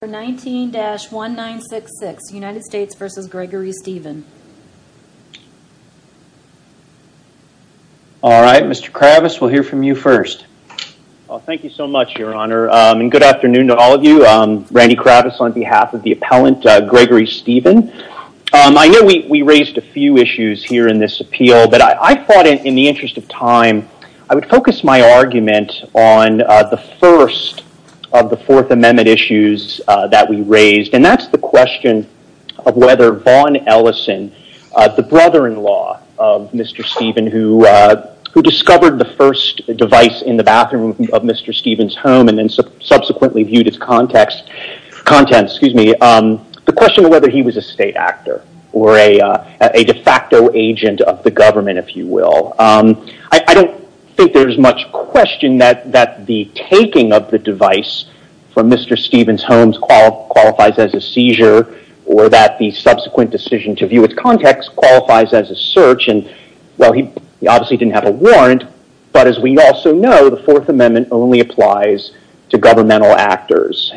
for 19-1966 United States v. Gregory Stephen Alright, Mr. Kravis, we'll hear from you first. Thank you so much, Your Honor, and good afternoon to all of you. Randy Kravis on behalf of the appellant, Gregory Stephen. I know we raised a few issues here in this appeal, but I thought in the interest of time, I would focus my that we raised, and that's the question of whether Vaughn Ellison, the brother-in-law of Mr. Stephen, who discovered the first device in the bathroom of Mr. Stephen's home and then subsequently viewed its contents, the question of whether he was a state actor or a de facto agent of the government, if you will. I don't think there's much question that the taking of the device from Mr. Stephen's home qualifies as a seizure or that the subsequent decision to view its context qualifies as a search. He obviously didn't have a warrant, but as we also know, the Fourth Amendment only applies to governmental actors.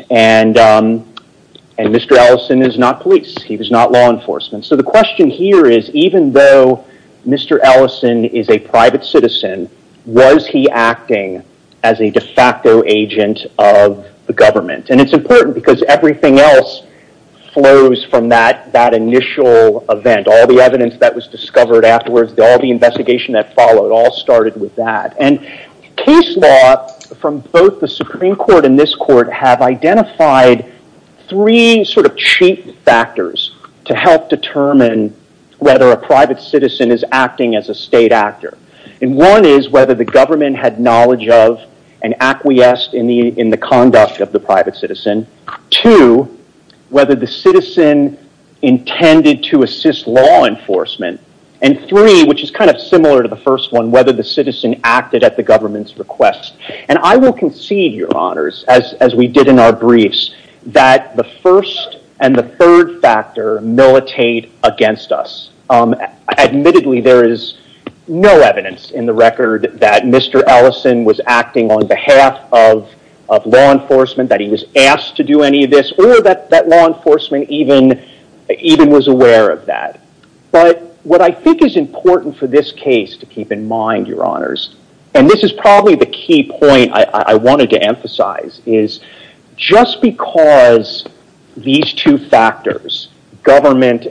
Mr. Ellison is not police. He was not law enforcement. The question here is, even though Mr. Ellison is a private citizen, was he acting as a de facto agent of the government? It's important because everything else flows from that initial event. All the evidence that was discovered afterwards, all the investigation that followed all started with that. Case law from both the Supreme Court and this court have identified three cheap factors to help determine whether a private citizen is acting as a state actor. One is whether the government had knowledge of and acquiesced in the conduct of the private citizen. Two, whether the citizen intended to assist law enforcement. Three, which is similar to the first one, whether the citizen acted at the government's request. I will concede, Your Honors, as we did in our briefs, that the first and the third factor militate against us. Admittedly, there is no evidence in the record that Mr. Ellison was acting on behalf of law enforcement, that he was asked to do any of this, or that law enforcement even was aware of that. What I think is important for this case, to keep in mind, Your Honors, and this is probably the key point I wanted to emphasize, is just because these two factors, government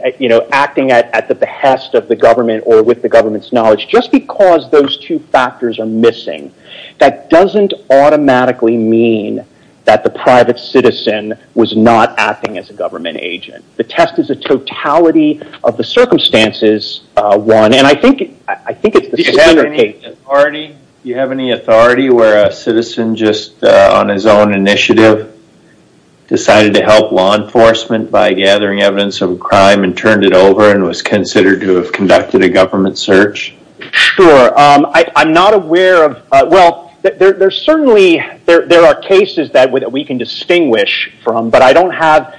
acting at the behest of the government or with the government's knowledge, just because those two factors are missing, that doesn't automatically mean that the private citizen was not acting as a government agent. The test is a totality of the circumstances, one. I think it's the same for Kate. Artie, do you have any authority where a citizen just on his own initiative decided to help law enforcement by gathering evidence of a crime and turned it over and was considered to have conducted a government search? Sure. I'm not aware of... Well, there are cases that we can distinguish from, but I don't have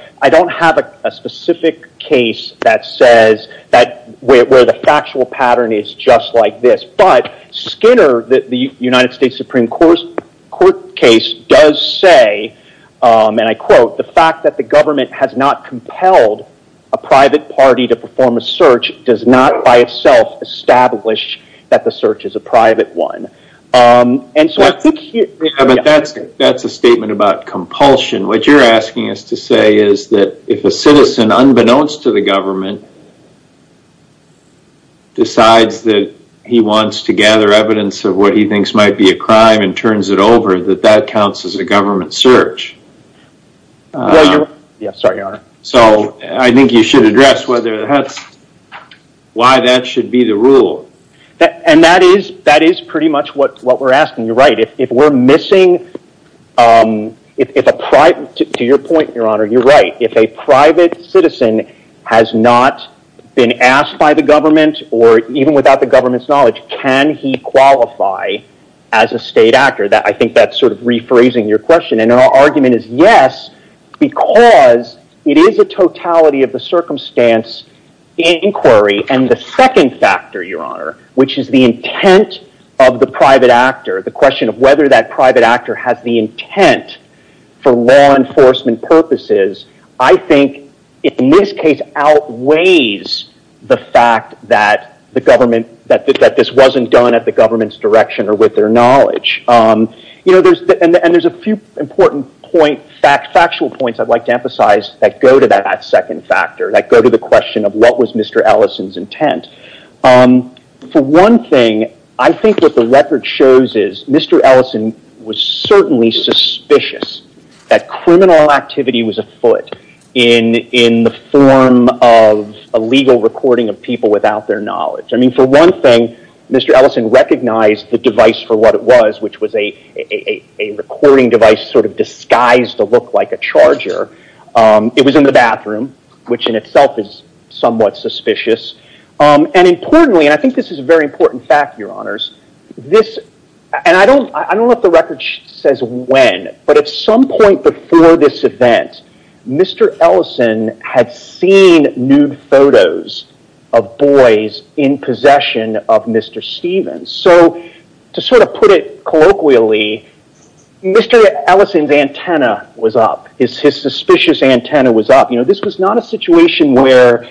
a specific case where the factual pattern is just like this. Skinner, the United States Supreme Court case, does say, and I quote, the fact that the government has not compelled a private party to perform a search does not by itself establish that the search is a private one. That's a statement about compulsion. What you're asking us to say is that if a citizen, unbeknownst to the government, decides that he wants to gather evidence of what he thinks might be a crime and turns it over, that that counts as a government search. Yeah, sorry, Your Honor. I think you should address whether that's why that should be the rule. That is pretty much what we're asking. You're right. If a private citizen has not been asked by the government or even without the government's knowledge, can he qualify as a state actor? I think that's sort of rephrasing your question. Our argument is yes, because it is a totality of the circumstance inquiry. The second factor, Your Honor, which is the intent of the private actor, the question is, I think in this case outweighs the fact that this wasn't done at the government's direction or with their knowledge. There's a few important point, factual points I'd like to emphasize that go to that second factor, that go to the question of what was Mr. Ellison's intent. For one thing, I think what the record shows is Mr. Ellison was certainly suspicious that criminal activity was afoot in the form of a legal recording of people without their knowledge. For one thing, Mr. Ellison recognized the device for what it was, which was a recording device sort of disguised to look like a charger. It was in the bathroom, which in itself is somewhat suspicious. Importantly, and I think this is a very important fact, Your Honors, and I don't know if the record says when, but at some point before this event, Mr. Ellison had seen nude photos of boys in possession of Mr. Stevens. To sort of put it colloquially, Mr. Ellison's antenna was up. His suspicious antenna was up. This was not a situation where,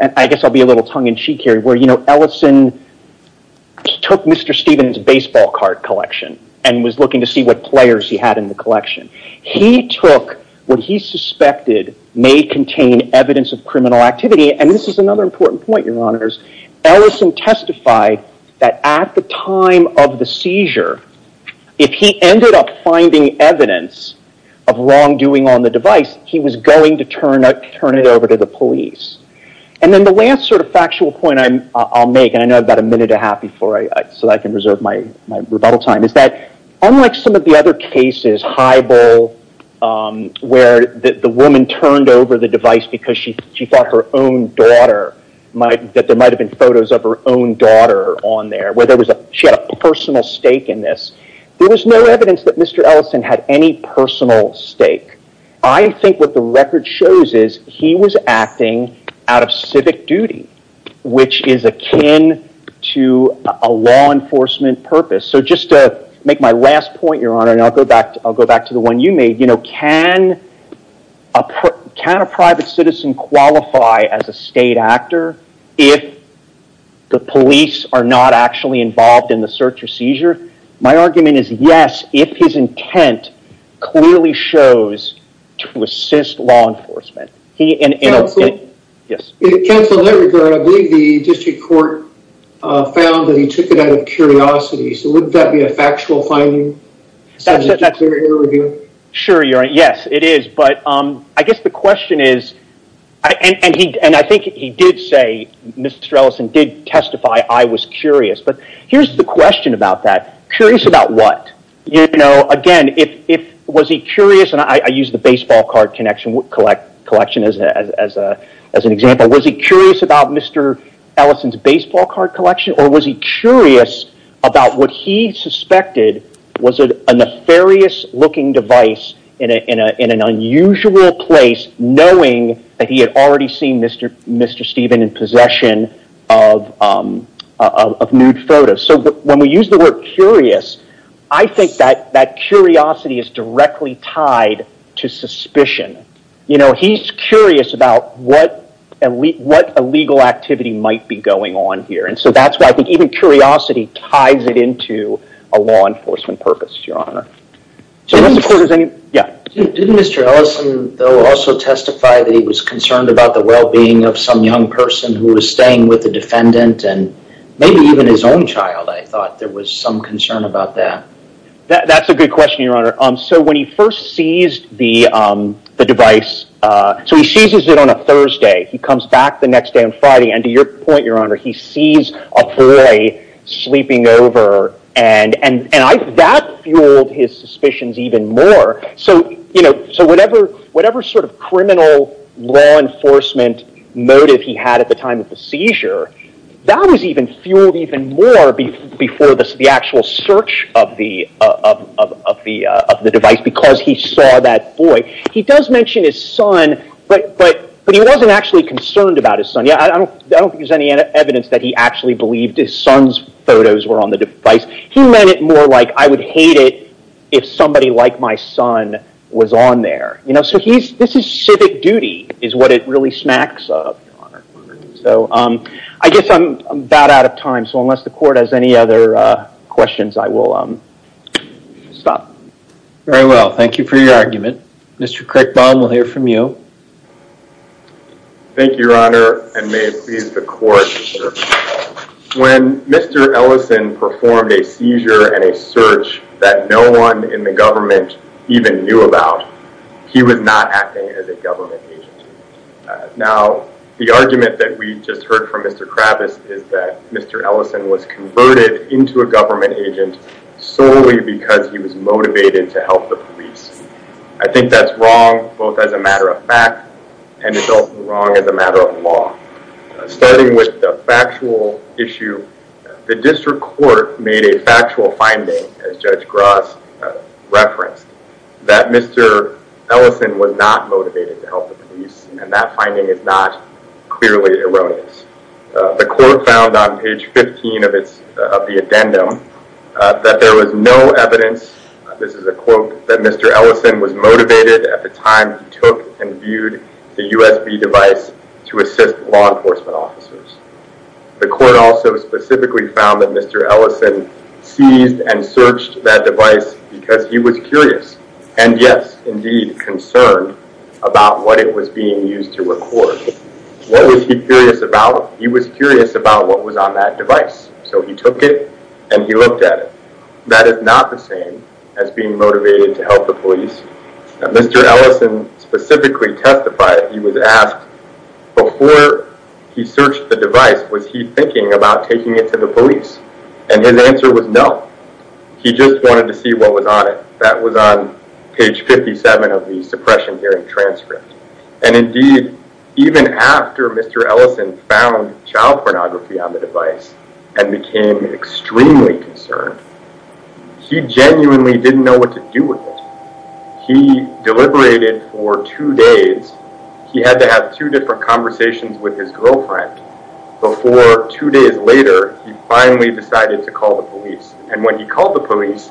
and I guess I'll be a little tongue-in-cheek here, where Ellison took Mr. Stevens' baseball card collection and was looking to see what players he had in the collection. He took what he suspected may contain evidence of criminal activity, and this is another important point, Your Honors. Ellison testified that at the time of the seizure, if he ended up finding evidence of wrongdoing on the device, he was going to turn it over to the police. Then the last sort of factual point I'll make, and I know I've got a minute and a half before I, so I can reserve my rebuttal time, is that unlike some of the other cases, Highball, where the woman turned over the device because she thought there might have been photos of her own daughter on there, where she had a personal stake in this, there was no evidence that Mr. Ellison had any personal stake. I think what the record shows is he was acting out of civic duty, which is akin to a law enforcement purpose. Just to make my last point, Your Honor, and I'll go back to the one you made, can a private citizen qualify as a state actor if the police are not actually involved in the search or seizure? My argument is yes, if his intent clearly shows to assist law enforcement. Counsel, in that regard, I believe the district court found that he took it out of curiosity, so wouldn't that be a factual finding? Sure, Your Honor, yes, it is, but I guess the question is, and I think he did say, Mr. Ellison did testify, I was curious, but here's the question about that. Curious about what? Again, was he curious, and I use the baseball card collection as an example, was he curious about Mr. Ellison's baseball card collection, or was he curious about what he suspected was a nefarious looking device in an unusual place knowing that he had already seen Mr. Stephen in possession of nude photos? When we use the word curious, I think that that curiosity is directly tied to suspicion. He's curious about what illegal activity might be going on here, and so that's why I think even curiosity ties it into a law enforcement purpose, Your Honor. Didn't Mr. Ellison, though, also testify that he was concerned about the well-being of some young person who was staying with the defendant, and maybe even his own child, I thought there was some concern about that. That's a good question, Your Honor. When he first seized the device, so he seizes it on a Thursday, he comes back the next day on Friday, and to your point, Your Honor, he sees a boy sleeping over, and that fueled his suspicions even more, so whatever sort of criminal law enforcement motive he might have had at the time of the seizure, that was fueled even more before the actual search of the device, because he saw that boy. He does mention his son, but he wasn't actually concerned about his son. I don't think there's any evidence that he actually believed his son's photos were on the device. He meant it more like, I would hate it if somebody like my son was on there. This is civic duty, is what it really smacks of, Your Honor. I guess I'm about out of time, so unless the court has any other questions, I will stop. Very well. Thank you for your argument. Mr. Crickbaum, we'll hear from you. Thank you, Your Honor, and may it please the court. When Mr. Ellison performed a seizure and a search that no one in the government even knew about, he was not acting as a government agent. Now, the argument that we just heard from Mr. Kravitz is that Mr. Ellison was converted into a government agent solely because he was motivated to help the police. I think that's wrong, both as a matter of fact, and it's also wrong as a matter of law. Starting with the factual issue, the district court made a factual finding, as Judge Gross referenced, that Mr. Ellison was not motivated to help the police, and that finding is not clearly erroneous. The court found on page 15 of the addendum that there was no evidence, this is a quote, that Mr. Ellison was motivated at the time he took and viewed the USB device to assist law enforcement officers. The court also specifically found that Mr. Ellison seized and searched that device because he was curious, and yes, indeed concerned, about what it was being used to record. What was he curious about? He was curious about what was on that device, so he took it and he looked at it. That is not the same as being motivated to testify. He was asked, before he searched the device, was he thinking about taking it to the police? His answer was no. He just wanted to see what was on it. That was on page 57 of the suppression hearing transcript. Indeed, even after Mr. Ellison found child pornography on the device and became extremely concerned, he genuinely didn't know what to do. Within two days, he had to have two different conversations with his girlfriend, before two days later, he finally decided to call the police. When he called the police,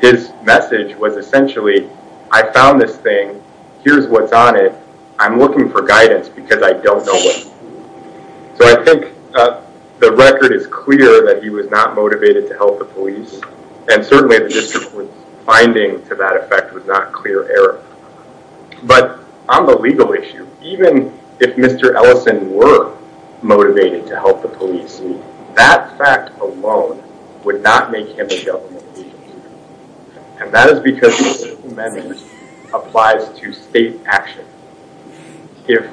his message was essentially, I found this thing, here's what's on it, I'm looking for guidance because I don't know what to do. I think the record is clear that he was not motivated to help the police, and certainly the district's finding to that effect was not clear error. But on the legal issue, even if Mr. Ellison were motivated to help the police, that fact alone would not make him a government agent. That is because this amendment applies to state action. If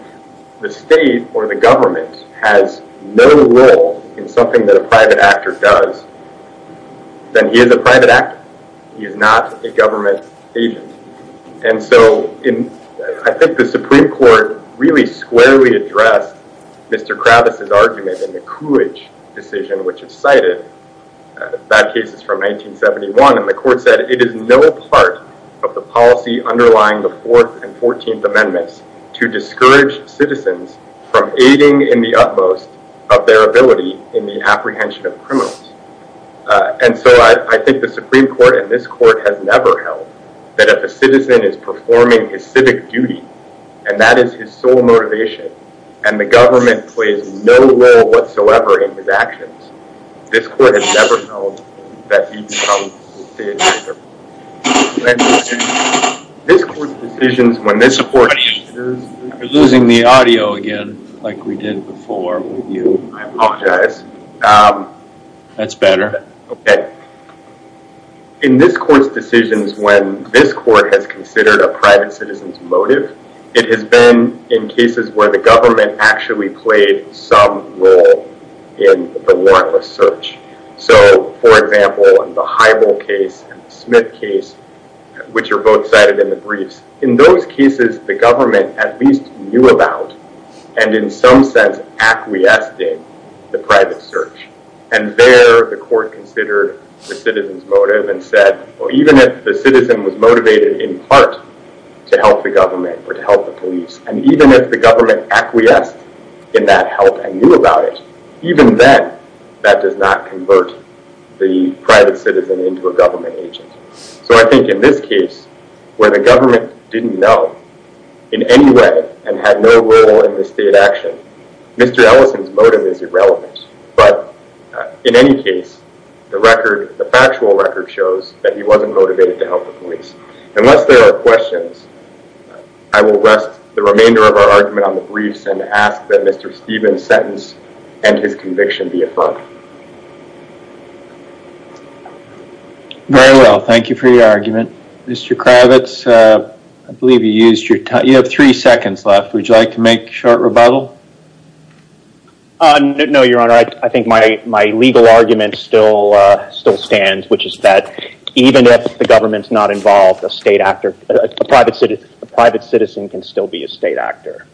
the state or the government has no role in something that a private actor does, then he is a private actor. He is not a government agent. I think the Supreme Court really squarely addressed Mr. Kravis' argument in the Coolidge decision which is cited, that case is from 1971, and the court said, it is no part of the policy underlying the 4th and 14th Amendments to discourage citizens from aiding in the apprehension of criminals. And so I think the Supreme Court and this court has never held that if a citizen is performing his civic duty, and that is his sole motivation, and the government plays no role whatsoever in his actions, this court has never held that he becomes a state actor. This court's decisions, when this court... We're losing the audio again, like we did before. I apologize. That's better. In this court's decisions, when this court has considered a private citizen's motive, it has been in cases where the government actually played some role in the warrantless search. So, for example, in the Heibel case and the Smith case, which are both cited in the briefs, in those cases the government at least knew about and in some sense acquiesced in the private search. And there the court considered the citizen's motive and said, well, even if the citizen was motivated in part to help the government or to help the police, and even if the government acquiesced in that help and knew about it, even then that does not convert the private citizen into a government agent. So I think in this case, where the government didn't know in any way and had no role in the state action, Mr. Ellison's motive is irrelevant. But in any case, the factual record shows that he wasn't motivated to help the police. Unless there are questions, I will rest the remainder of our argument on the briefs and ask that Mr. Stevens' sentence and his conviction be affirmed. Very well. Thank you for your argument. Mr. Kravitz, I believe you used your time. You have three seconds left. Would you like to make a short rebuttal? No, Your Honor. I think my legal argument still stands, which is that even if the government is not involved, a private citizen can still be a state actor.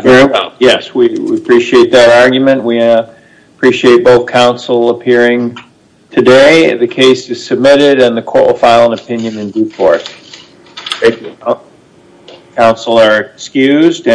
Very well. Yes, we appreciate that argument. We appreciate both counsel appearing today. The case is submitted and the court will file an opinion in due course. Thank you. Counsel are excused.